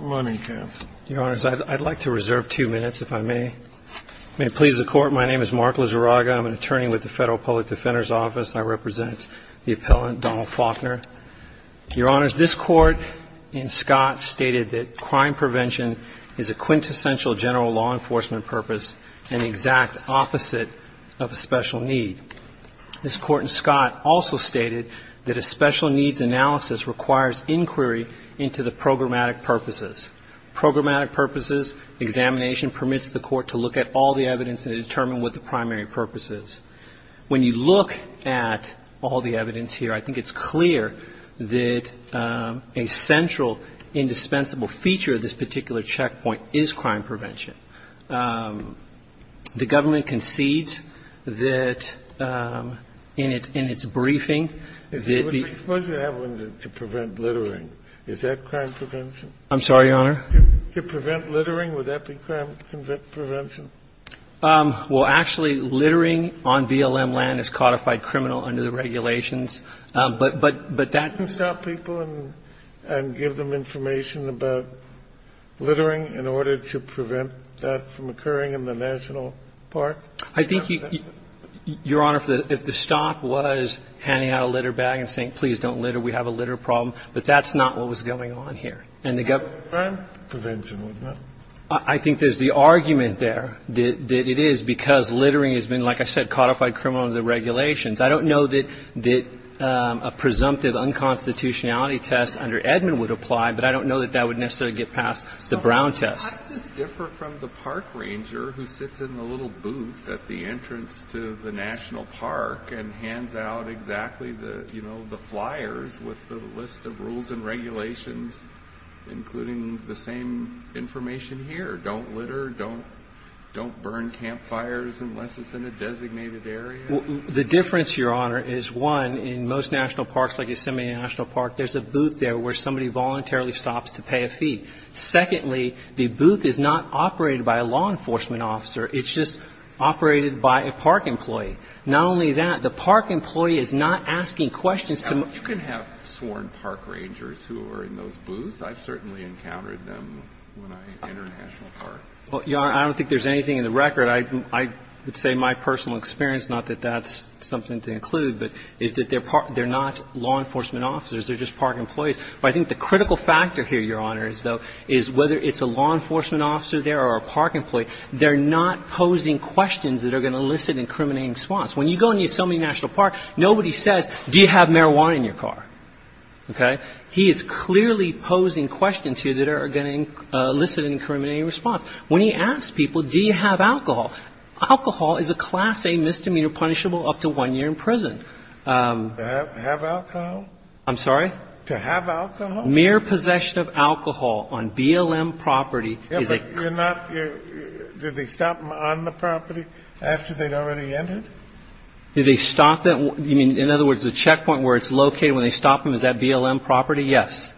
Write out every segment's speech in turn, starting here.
Your honors, I'd like to reserve two minutes if I may. May it please the court, my name is Mark Lizarraga. I'm an attorney with the Federal Public Defender's Office. I represent the appellant Donald Faulkner. Your honors, this court in Scott stated that crime prevention is a quintessential general law enforcement purpose and the exact opposite of a special need. This court in Scott also stated that a special needs analysis requires inquiry into the programmatic purposes. Programmatic purposes, examination permits the court to look at all the evidence and determine what the primary purpose is. When you look at all the evidence here, I think it's clear that a central indispensable feature of this particular checkpoint is crime prevention. The government concedes that in its briefing that the ---- Suppose you have one to prevent littering. Is that crime prevention? I'm sorry, Your Honor? To prevent littering, would that be crime prevention? Well, actually, littering on BLM land is codified criminal under the regulations. But that ---- Can't you stop people and give them information about littering in order to prevent that from occurring in the national park? I think, Your Honor, if the stop was handing out a litter bag and saying, please don't litter, we have a litter problem, but that's not what was going on here. And the government ---- It's crime prevention, isn't it? I think there's the argument there that it is because littering has been, like I said, codified criminal under the regulations. I don't know that a presumptive unconstitutionality test under Edmund would apply, but I don't know that that would necessarily get past the Brown test. How does this differ from the park ranger who sits in the little booth at the entrance to the national park and hands out exactly the, you know, the flyers with the list of rules and regulations including the same information here, don't litter, don't burn campfires unless it's in a designated area? The difference, Your Honor, is, one, in most national parks like Yosemite National Park, there's a booth there where somebody voluntarily stops to pay a fee. Secondly, the booth is not operated by a law enforcement officer. It's just operated by a park employee. Not only that, the park employee is not asking questions to ---- Now, you can have sworn park rangers who are in those booths. I've certainly encountered them when I enter national parks. Well, Your Honor, I don't think there's anything in the record. I would say my personal experience, not that that's something to include, but is that they're not law enforcement officers. They're just park employees. But I think the critical factor here, Your Honor, is whether it's a law enforcement officer there or a park employee, they're not posing questions that are going to elicit an incriminating response. When you go into Yosemite National Park, nobody says, do you have marijuana in your car? Okay? He is clearly posing questions here that are going to elicit an incriminating response. When he asks people, do you have alcohol, alcohol is a Class A misdemeanor punishable up to one year in prison. To have alcohol? I'm sorry? To have alcohol? Mere possession of alcohol on BLM property is a ---- Yeah, but you're not ---- did they stop them on the property after they'd already entered? Did they stop them? You mean, in other words, the checkpoint where it's located when they stop them is that BLM property? Yes.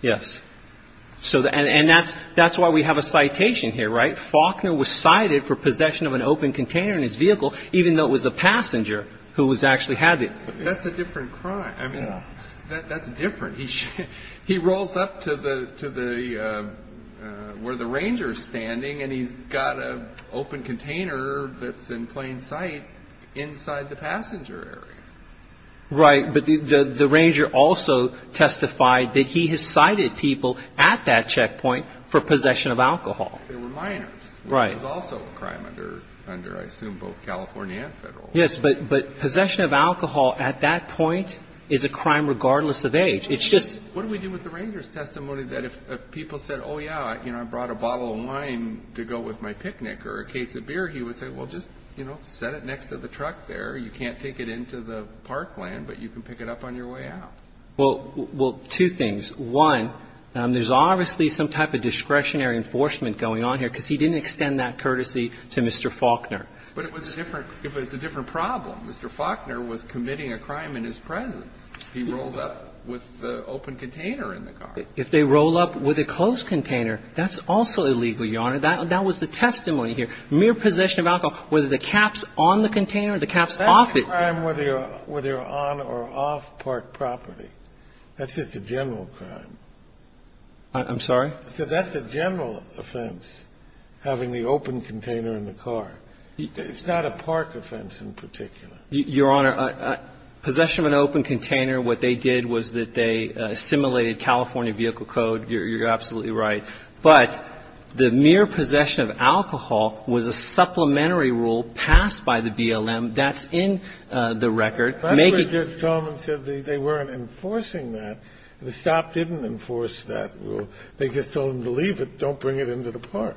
Yes. And that's why we have a citation here, right? Faulkner was cited for possession of an open container in his vehicle, even though it was a passenger who actually had it. That's a different crime. I mean, that's different. He rolls up to the ---- where the ranger is standing and he's got an open container that's in plain sight inside the passenger area. Right. But the ranger also testified that he has cited people at that checkpoint for possession of alcohol. They were minors. Right. It was also a crime under, I assume, both California and Federal. Yes, but possession of alcohol at that point is a crime regardless of age. It's just ---- What do we do with the ranger's testimony that if people said, oh, yeah, you know, I brought a bottle of wine to go with my picnic or a case of beer, he would say, well, just, you know, set it next to the truck there. You can't take it into the parkland, but you can pick it up on your way out. Well, two things. One, there's obviously some type of discretionary enforcement going on here because he didn't extend that courtesy to Mr. Faulkner. But it was a different ---- it was a different problem. Mr. Faulkner was committing a crime in his presence. He rolled up with the open container in the car. If they roll up with a closed container, that's also illegal, Your Honor. That was the testimony here. And the other thing that I'm trying to get at is that this is a general offense. Mere possession of alcohol, whether the cap's on the container or the cap's off it ---- That's a crime whether you're on or off park property. That's just a general crime. I'm sorry? I said that's a general offense, having the open container in the car. It's not a park offense in particular. Your Honor, possession of an open container, what they did was that they simulated California Vehicle Code. You're absolutely right. But the mere possession of alcohol was a supplementary rule passed by the BLM. That's in the record. That's where Judge Tolman said they weren't enforcing that. The stop didn't enforce that rule. They just told him to leave it, don't bring it into the park.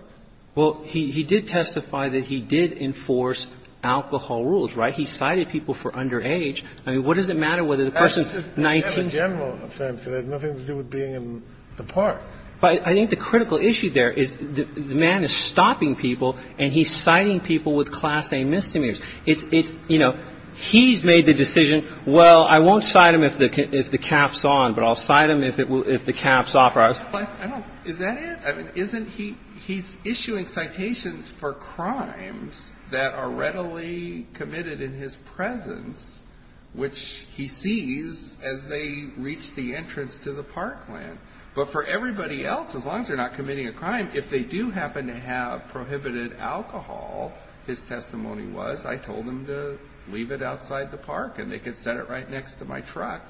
Well, he did testify that he did enforce alcohol rules, right? He cited people for underage. I mean, what does it matter whether the person's 19 ---- That's a general offense. It has nothing to do with being in the park. But I think the critical issue there is the man is stopping people, and he's citing people with Class A misdemeanors. It's, you know, he's made the decision, well, I won't cite him if the cap's on, but I'll cite him if the cap's off. Is that it? I mean, isn't he ---- he's issuing citations for crimes that are readily committed in his presence, which he sees as they reach the entrance to the parkland. But for everybody else, as long as they're not committing a crime, if they do happen to have prohibited alcohol, his testimony was, I told them to leave it outside the park, and they could set it right next to my truck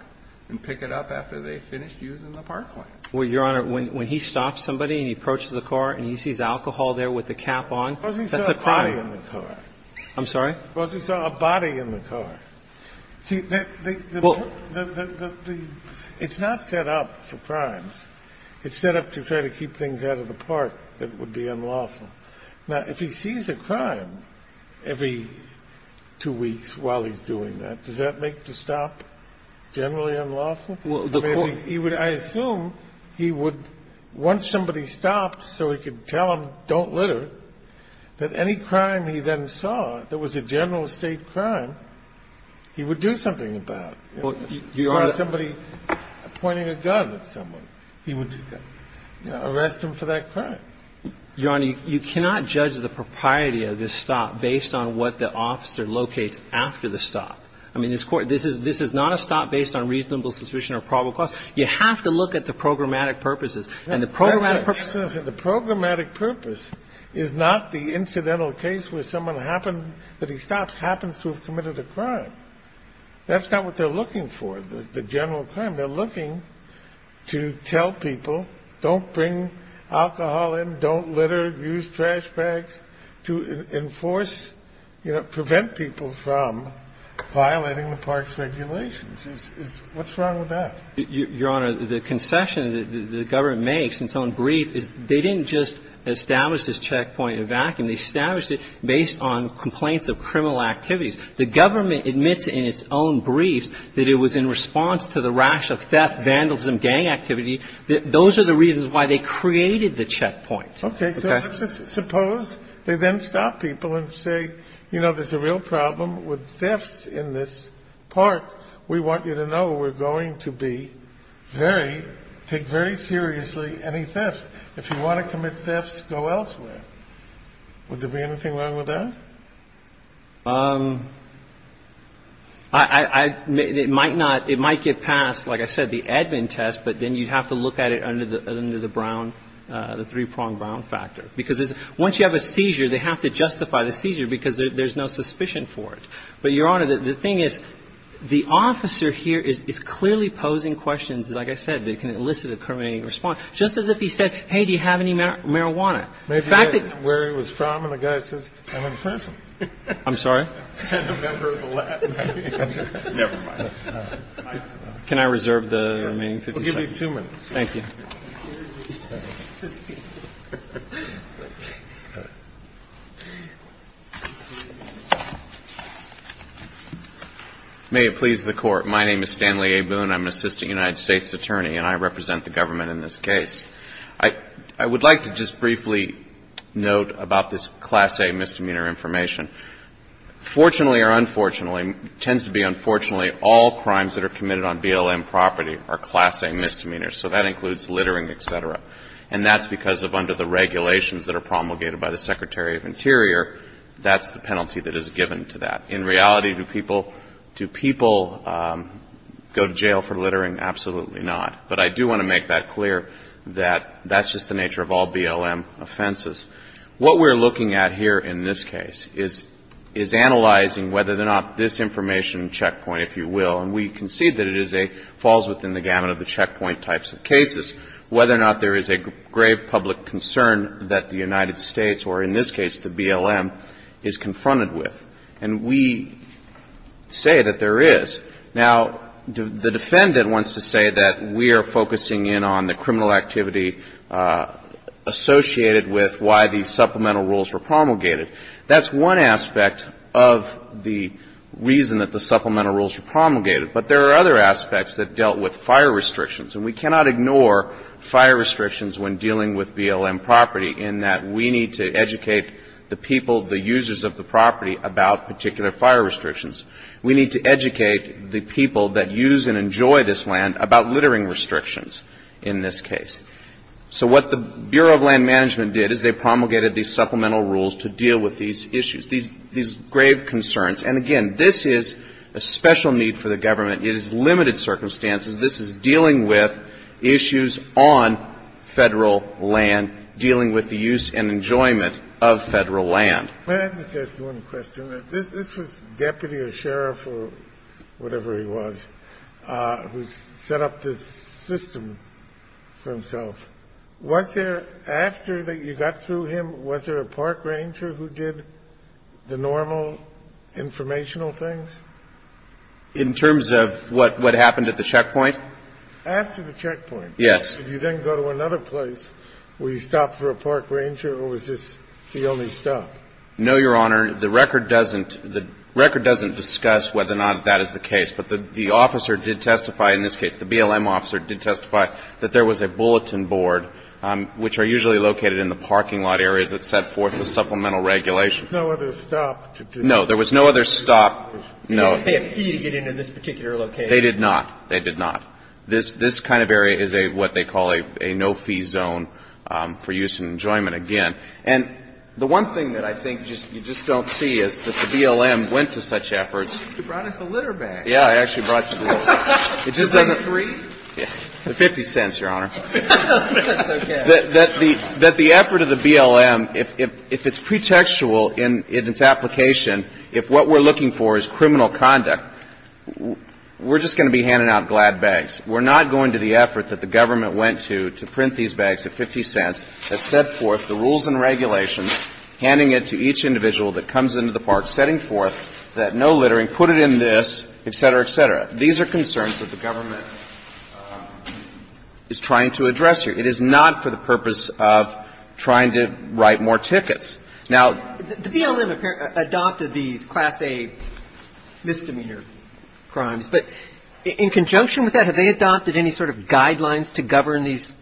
and pick it up after they finished using the parkland. Well, Your Honor, when he stops somebody and he approaches the car and he sees alcohol there with the cap on, that's a crime. Suppose he saw a body in the car. I'm sorry? Suppose he saw a body in the car. See, the ---- Well, the ---- It's not set up for crimes. It's set up to try to keep things out of the park that would be unlawful. Now, if he sees a crime every two weeks while he's doing that, does that make the stop generally unlawful? I mean, he would ---- I assume he would, once somebody stopped so he could tell him don't litter, that any crime he then saw that was a general estate crime, he would do something about it. If he saw somebody pointing a gun at someone, he would arrest him for that crime. Your Honor, you cannot judge the propriety of this stop based on what the officer locates after the stop. I mean, this Court ---- this is not a stop based on reasonable suspicion or probable cause. You have to look at the programmatic purposes. And the programmatic purposes ---- The programmatic purpose is not the incidental case where someone happened ---- that he stops happens to have committed a crime. That's not what they're looking for, the general crime. They're looking to tell people don't bring alcohol in, don't litter, use trash bags, to enforce, you know, prevent people from violating the parks regulations. What's wrong with that? Your Honor, the concession that the government makes in its own brief is they didn't just establish this checkpoint in a vacuum. They established it based on complaints of criminal activities. The government admits in its own briefs that it was in response to the rash of theft, vandalism, gang activity. Those are the reasons why they created the checkpoint. Okay. Suppose they then stop people and say, you know, there's a real problem with thefts in this park. We want you to know we're going to be very ---- take very seriously any theft. If you want to commit thefts, go elsewhere. Would there be anything wrong with that? I ---- it might not ---- it might get passed, like I said, the admin test, but then you'd have to look at it under the brown, the three-pronged brown factor. Because once you have a seizure, they have to justify the seizure because there's no suspicion for it. But, Your Honor, the thing is the officer here is clearly posing questions, like I said, that can elicit a criminal response. Just as if he said, hey, do you have any marijuana? The fact that ---- Maybe he doesn't know where he was from and the guy says, I'm in prison. I'm sorry? I'm a member of the lab. Never mind. Can I reserve the remaining 50 seconds? I'll give you two minutes. Thank you. May it please the Court. My name is Stanley A. Boone. I'm an assistant United States attorney, and I represent the government in this case. I would like to just briefly note about this Class A misdemeanor information. Fortunately or unfortunately, it tends to be unfortunately all crimes that are committed on BLM property are Class A misdemeanors, so that includes littering, et cetera. And that's because of under the regulations that are promulgated by the Secretary of Interior, that's the penalty that is given to that. In reality, do people go to jail for littering? Absolutely not. But I do want to make that clear that that's just the nature of all BLM offenses. What we're looking at here in this case is analyzing whether or not this information checkpoint, if you will, and we concede that it falls within the gamut of the checkpoint types of cases, whether or not there is a grave public concern that the United States, or in this case the BLM, is confronted with. And we say that there is. Now, the defendant wants to say that we are focusing in on the criminal activity associated with why these supplemental rules were promulgated. That's one aspect of the reason that the supplemental rules were promulgated. But there are other aspects that dealt with fire restrictions. And we cannot ignore fire restrictions when dealing with BLM property in that we need to educate the people, the users of the property, about particular fire restrictions. We need to educate the people that use and enjoy this land about littering restrictions in this case. So what the Bureau of Land Management did is they promulgated these supplemental rules to deal with these issues, these grave concerns. And, again, this is a special need for the government. It is limited circumstances. This is dealing with issues on Federal land, dealing with the use and enjoyment of Federal land. This was deputy or sheriff or whatever he was who set up this system for himself. Was there, after you got through him, was there a park ranger who did the normal informational things? In terms of what happened at the checkpoint? After the checkpoint. Yes. If you didn't go to another place, were you stopped for a park ranger, or was this the only stop? No, Your Honor. The record doesn't discuss whether or not that is the case. But the officer did testify in this case, the BLM officer did testify, that there was a bulletin board, which are usually located in the parking lot areas that set forth the supplemental regulation. No other stop? There was no other stop. No. They didn't pay a fee to get into this particular location. They did not. They did not. This kind of area is what they call a no-fee zone for use and enjoyment, again. And the one thing that I think you just don't see is that the BLM went to such efforts. You brought us a litter bag. Yes. I actually brought you the litter bag. It just doesn't. The three? The 50 cents, Your Honor. That's okay. That the effort of the BLM, if it's pretextual in its application, if what we're looking for is criminal conduct, we're just going to be handing out glad bags. We're not going to the effort that the government went to to print these bags at 50 cents that set forth the rules and regulations, handing it to each individual that comes into the park, setting forth that no littering, put it in this, et cetera, et cetera. These are concerns that the government is trying to address here. It is not for the purpose of trying to write more tickets. Now, the BLM adopted these Class A misdemeanor crimes. But in conjunction with that, have they adopted any sort of guidelines to govern these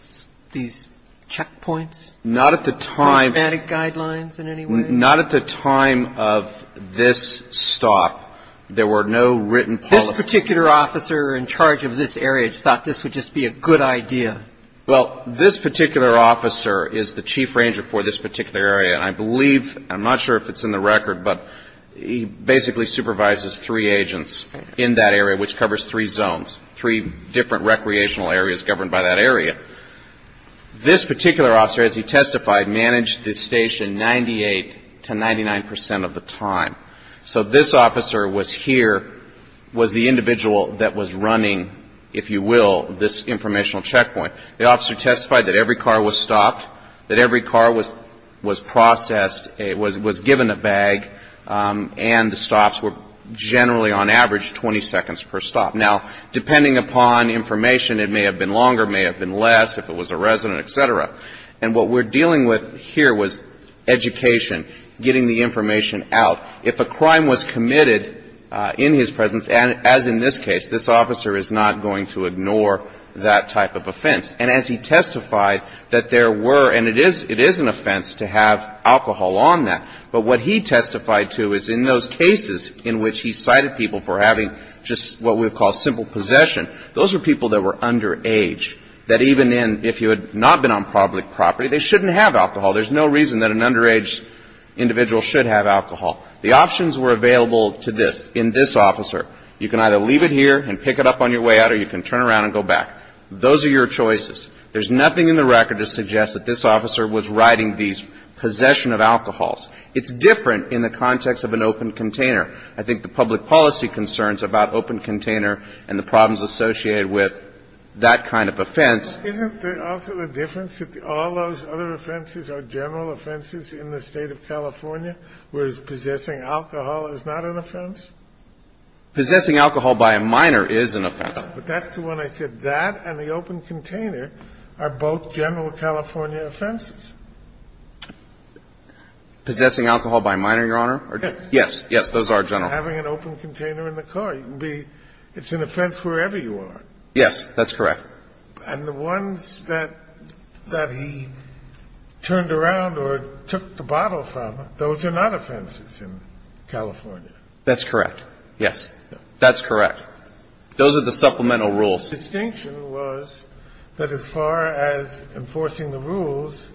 checkpoints? Not at the time. Informatic guidelines in any way? Not at the time of this stop. There were no written policy. This particular officer in charge of this area thought this would just be a good idea. Well, this particular officer is the chief ranger for this particular area, and I believe, I'm not sure if it's in the record, but he basically supervises three agents in that area, which covers three zones, three different recreational areas governed by that area. This particular officer, as he testified, managed this station 98 to 99 percent of the time. So this officer was here, was the individual that was running, if you will, this informational checkpoint. The officer testified that every car was stopped, that every car was processed, was given a bag, and the stops were generally on average 20 seconds per stop. Now, depending upon information, it may have been longer, it may have been less, if it was a resident, et cetera. And what we're dealing with here was education, getting the information out. If a crime was committed in his presence, as in this case, this officer is not going to ignore that type of offense. And as he testified, that there were, and it is an offense to have alcohol on that, but what he testified to is in those cases in which he cited people for having just what we would call simple possession, those were people that were underage, that even if you had not been on public property, they shouldn't have alcohol. There's no reason that an underage individual should have alcohol. The options were available to this, in this officer. You can either leave it here and pick it up on your way out, or you can turn around and go back. Those are your choices. There's nothing in the record to suggest that this officer was riding the possession of alcohols. It's different in the context of an open container. I think the public policy concerns about open container and the problems associated with that kind of offense. Isn't there also a difference that all those other offenses are general offenses in the State of California, whereas possessing alcohol is not an offense? Possessing alcohol by a minor is an offense. But that's the one I said. That and the open container are both general California offenses. Possessing alcohol by a minor, Your Honor? Yes. Yes, those are general. Having an open container in the car. It's an offense wherever you are. Yes, that's correct. And the ones that he turned around or took the bottle from, those are not offenses in California. That's correct. Yes. That's correct. Those are the supplemental rules. The distinction was that as far as enforcing the rules,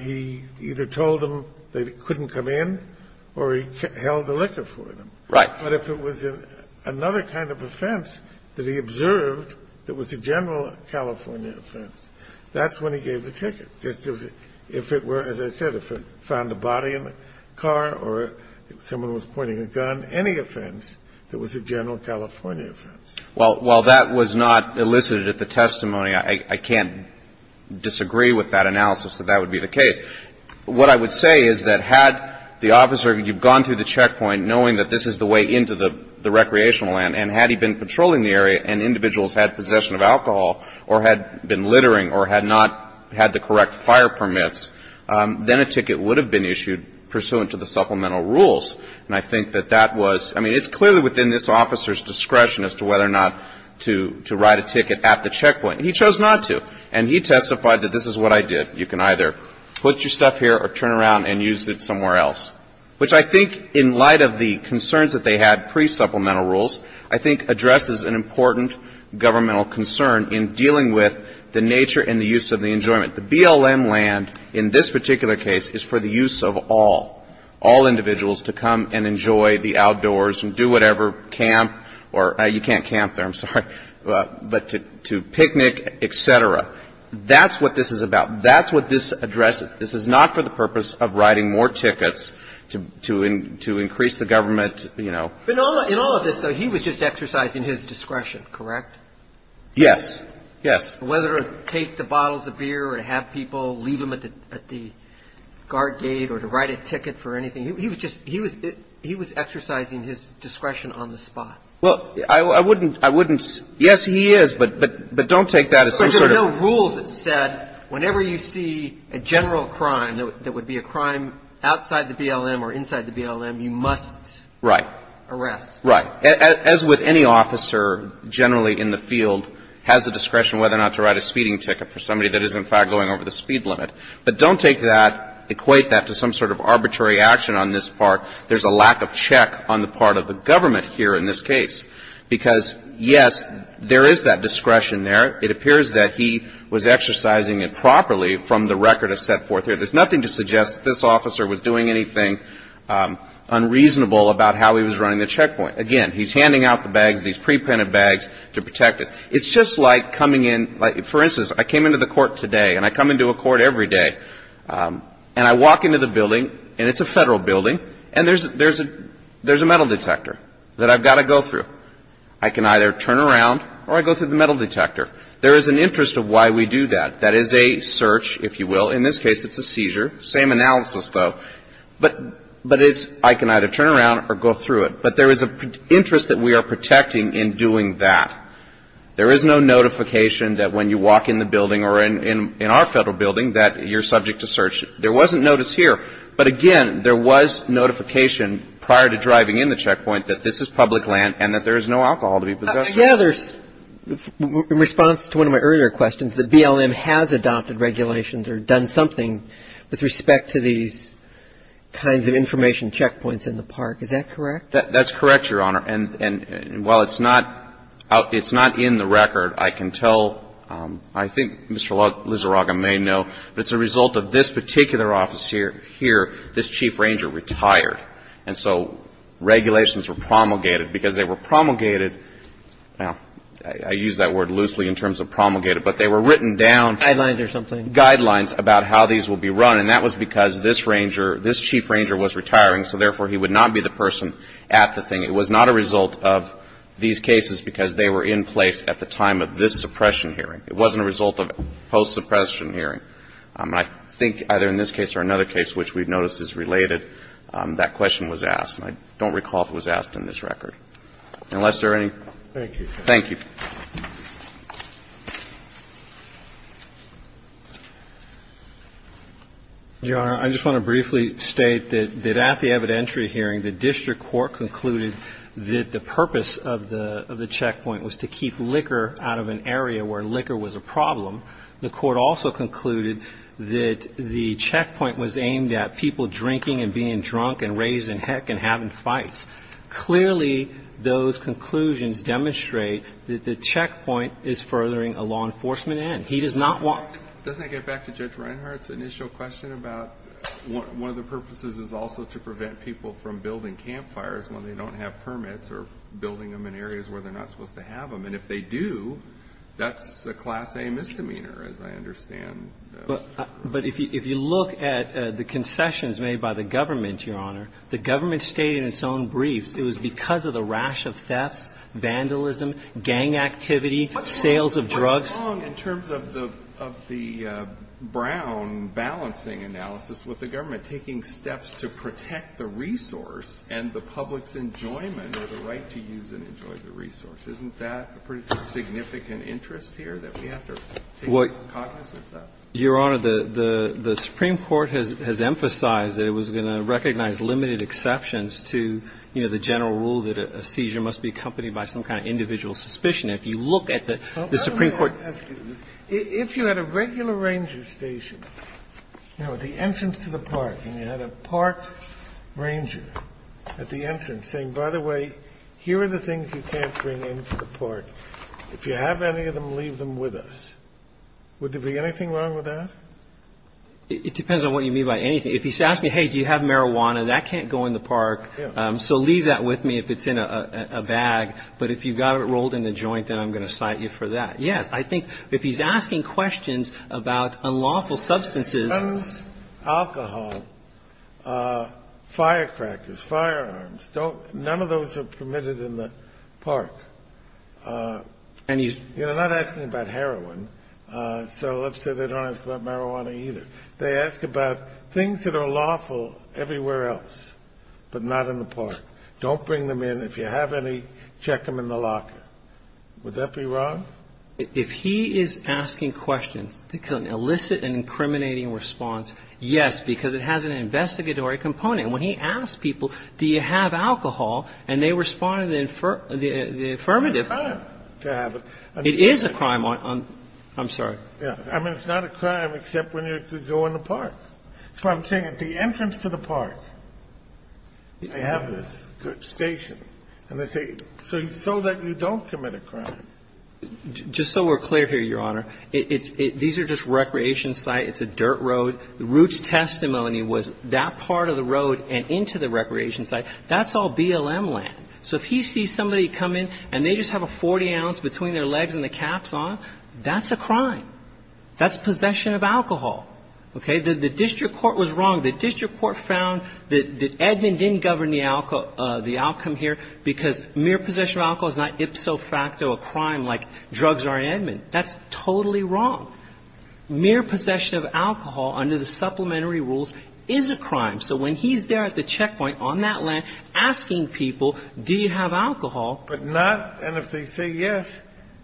he either told them they couldn't come in or he held the liquor for them. Right. But if it was another kind of offense that he observed that was a general California offense, that's when he gave the ticket. If it were, as I said, if it found a body in the car or someone was pointing a gun, any offense that was a general California offense. Well, while that was not elicited at the testimony, I can't disagree with that analysis that that would be the case. What I would say is that had the officer, you've gone through the checkpoint knowing that this is the way into the recreational land, and had he been patrolling the area and individuals had possession of alcohol or had been littering or had not had the correct fire permits, then a ticket would have been issued pursuant to the supplemental rules. And I think that that was, I mean, it's clearly within this officer's discretion as to whether or not to write a ticket at the checkpoint. He chose not to. And he testified that this is what I did. You can either put your stuff here or turn around and use it somewhere else. Which I think in light of the concerns that they had pre-supplemental rules, I think addresses an important governmental concern in dealing with the nature and the use of the enjoyment. The BLM land in this particular case is for the use of all, all individuals to come and enjoy the outdoors and do whatever, camp or you can't camp there, I'm sorry, but to picnic, et cetera. That's what this is about. That's what this addresses. This is not for the purpose of writing more tickets to increase the government, you know. But in all of this, though, he was just exercising his discretion, correct? Yes. Yes. Whether to take the bottles of beer or to have people leave them at the guard gate or to write a ticket for anything, he was just, he was exercising his discretion on the spot. Well, I wouldn't, I wouldn't. Yes, he is. But don't take that as some sort of. There are no rules that said whenever you see a general crime that would be a crime outside the BLM or inside the BLM, you must. Right. Arrest. Right. As with any officer generally in the field has the discretion whether or not to write a speeding ticket for somebody that is, in fact, going over the speed limit. But don't take that, equate that to some sort of arbitrary action on this part. There's a lack of check on the part of the government here in this case. Because, yes, there is that discretion there. It appears that he was exercising it properly from the record as set forth here. There's nothing to suggest this officer was doing anything unreasonable about how he was running the checkpoint. Again, he's handing out the bags, these pre-printed bags, to protect it. It's just like coming in, for instance, I came into the court today and I come into a court every day. And I walk into the building, and it's a federal building, and there's a metal detector that I've got to go through. I can either turn around or I go through the metal detector. There is an interest of why we do that. That is a search, if you will. In this case, it's a seizure. Same analysis, though. But it's I can either turn around or go through it. But there is an interest that we are protecting in doing that. There is no notification that when you walk in the building or in our federal building that you're subject to search. There wasn't notice here. But again, there was notification prior to driving in the checkpoint that this is public land and that there is no alcohol to be possessed with. Yeah. There's, in response to one of my earlier questions, that BLM has adopted regulations or done something with respect to these kinds of information checkpoints in the park. Is that correct? That's correct, Your Honor. And while it's not in the record, I can tell, I think Mr. Lizaraga may know, but it's a result of this particular office here. This chief ranger retired. And so regulations were promulgated because they were promulgated. Now, I use that word loosely in terms of promulgated, but they were written down. Guidelines or something. Guidelines about how these will be run. And that was because this ranger, this chief ranger was retiring, so therefore he would not be the person at the thing. It was not a result of these cases because they were in place at the time of this suppression hearing. It wasn't a result of post-suppression hearing. And I think either in this case or another case which we've noticed is related, that question was asked. And I don't recall if it was asked in this record. Unless there are any. Thank you. Thank you. Your Honor, I just want to briefly state that at the evidentiary hearing, the district court concluded that the purpose of the checkpoint was to keep liquor out of an area where liquor was a problem. The court also concluded that the checkpoint was aimed at people drinking and being drunk and raised in heck and having fights. Clearly, those conclusions demonstrate that the checkpoint is furthering a law enforcement end. He does not want to ---- Doesn't that get back to Judge Reinhart's initial question about one of the purposes is also to prevent people from building campfires when they don't have permits or building them in areas where they're not supposed to have them? And if they do, that's a Class A misdemeanor, as I understand. But if you look at the concessions made by the government, Your Honor, the government stated in its own briefs it was because of the rash of thefts, vandalism, gang activity, sales of drugs. What's wrong in terms of the Brown balancing analysis with the government taking steps to protect the resource and the public's enjoyment or the right to use and enjoy the resource? Isn't that a pretty significant interest here that we have to take cognizance of? Your Honor, the Supreme Court has emphasized that it was going to recognize limited exceptions to, you know, the general rule that a seizure must be accompanied by some kind of individual suspicion. If you look at the Supreme Court ---- If you had a regular ranger station, you know, at the entrance to the park and you had a park ranger at the entrance saying, by the way, here are the things you can't bring into the park. If you have any of them, leave them with us, would there be anything wrong with that? It depends on what you mean by anything. If he's asking, hey, do you have marijuana, that can't go in the park, so leave that with me if it's in a bag. But if you've got it rolled in a joint, then I'm going to cite you for that. Yes, I think if he's asking questions about unlawful substances ---- Firecrackers, firearms, don't ---- none of those are permitted in the park. And he's ---- You know, not asking about heroin. So let's say they don't ask about marijuana either. They ask about things that are lawful everywhere else, but not in the park. Don't bring them in. If you have any, check them in the locker. Would that be wrong? If he is asking questions that can elicit an incriminating response, yes, because it has an investigatory component. And when he asks people, do you have alcohol, and they respond in the affirmative ---- It's not a crime to have it. It is a crime on ---- I'm sorry. Yes. I mean, it's not a crime except when you go in the park. That's what I'm saying. At the entrance to the park, they have this station, and they say, so that you don't commit a crime. Just so we're clear here, Your Honor, it's ---- these are just recreation sites. It's a dirt road. Roots' testimony was that part of the road and into the recreation site. That's all BLM land. So if he sees somebody come in, and they just have a 40-ounce between their legs and the caps on, that's a crime. That's possession of alcohol. Okay? The district court was wrong. The district court found that Edmond didn't govern the outcome here because mere possession of alcohol is not ipso facto a crime like drugs are in Edmond. That's totally wrong. Mere possession of alcohol under the supplementary rules is a crime. So when he's there at the checkpoint on that land asking people, do you have alcohol But not ---- and if they say yes,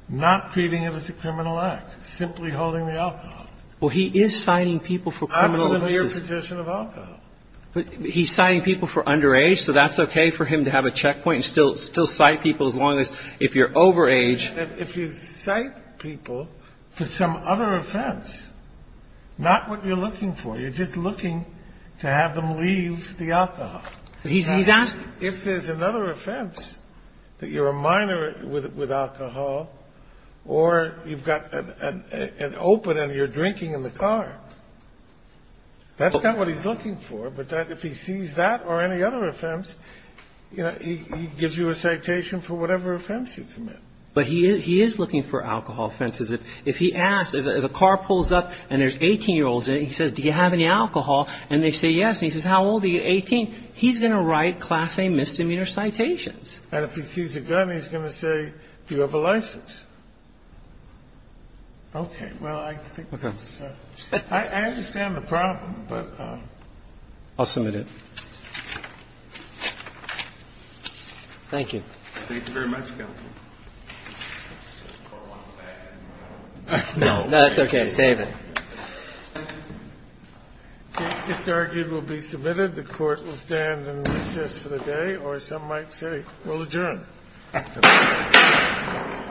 not treating it as a criminal act, simply holding the alcohol. Well, he is citing people for criminal ---- Absolutely a possession of alcohol. He's citing people for underage, so that's okay for him to have a checkpoint and still cite people as long as if you're overage. If you cite people for some other offense, not what you're looking for, you're just looking to have them leave the alcohol. He's asking. If there's another offense, that you're a minor with alcohol, or you've got an open and you're drinking in the car, that's not what he's looking for. But if he sees that or any other offense, you know, he gives you a citation for whatever offense you commit. But he is looking for alcohol offenses. If he asks, if a car pulls up and there's 18-year-olds, and he says, do you have any alcohol, and they say yes, and he says, how old are you, 18, he's going to write class A misdemeanor citations. And if he sees a gun, he's going to say, do you have a license? Okay. Well, I think that's a ---- Okay. I understand the problem, but ---- I'll submit it. Thank you. Thank you very much, counsel. No, that's okay. Save it. This argument will be submitted. The court will stand and recess for the day, or as some might say, we'll adjourn.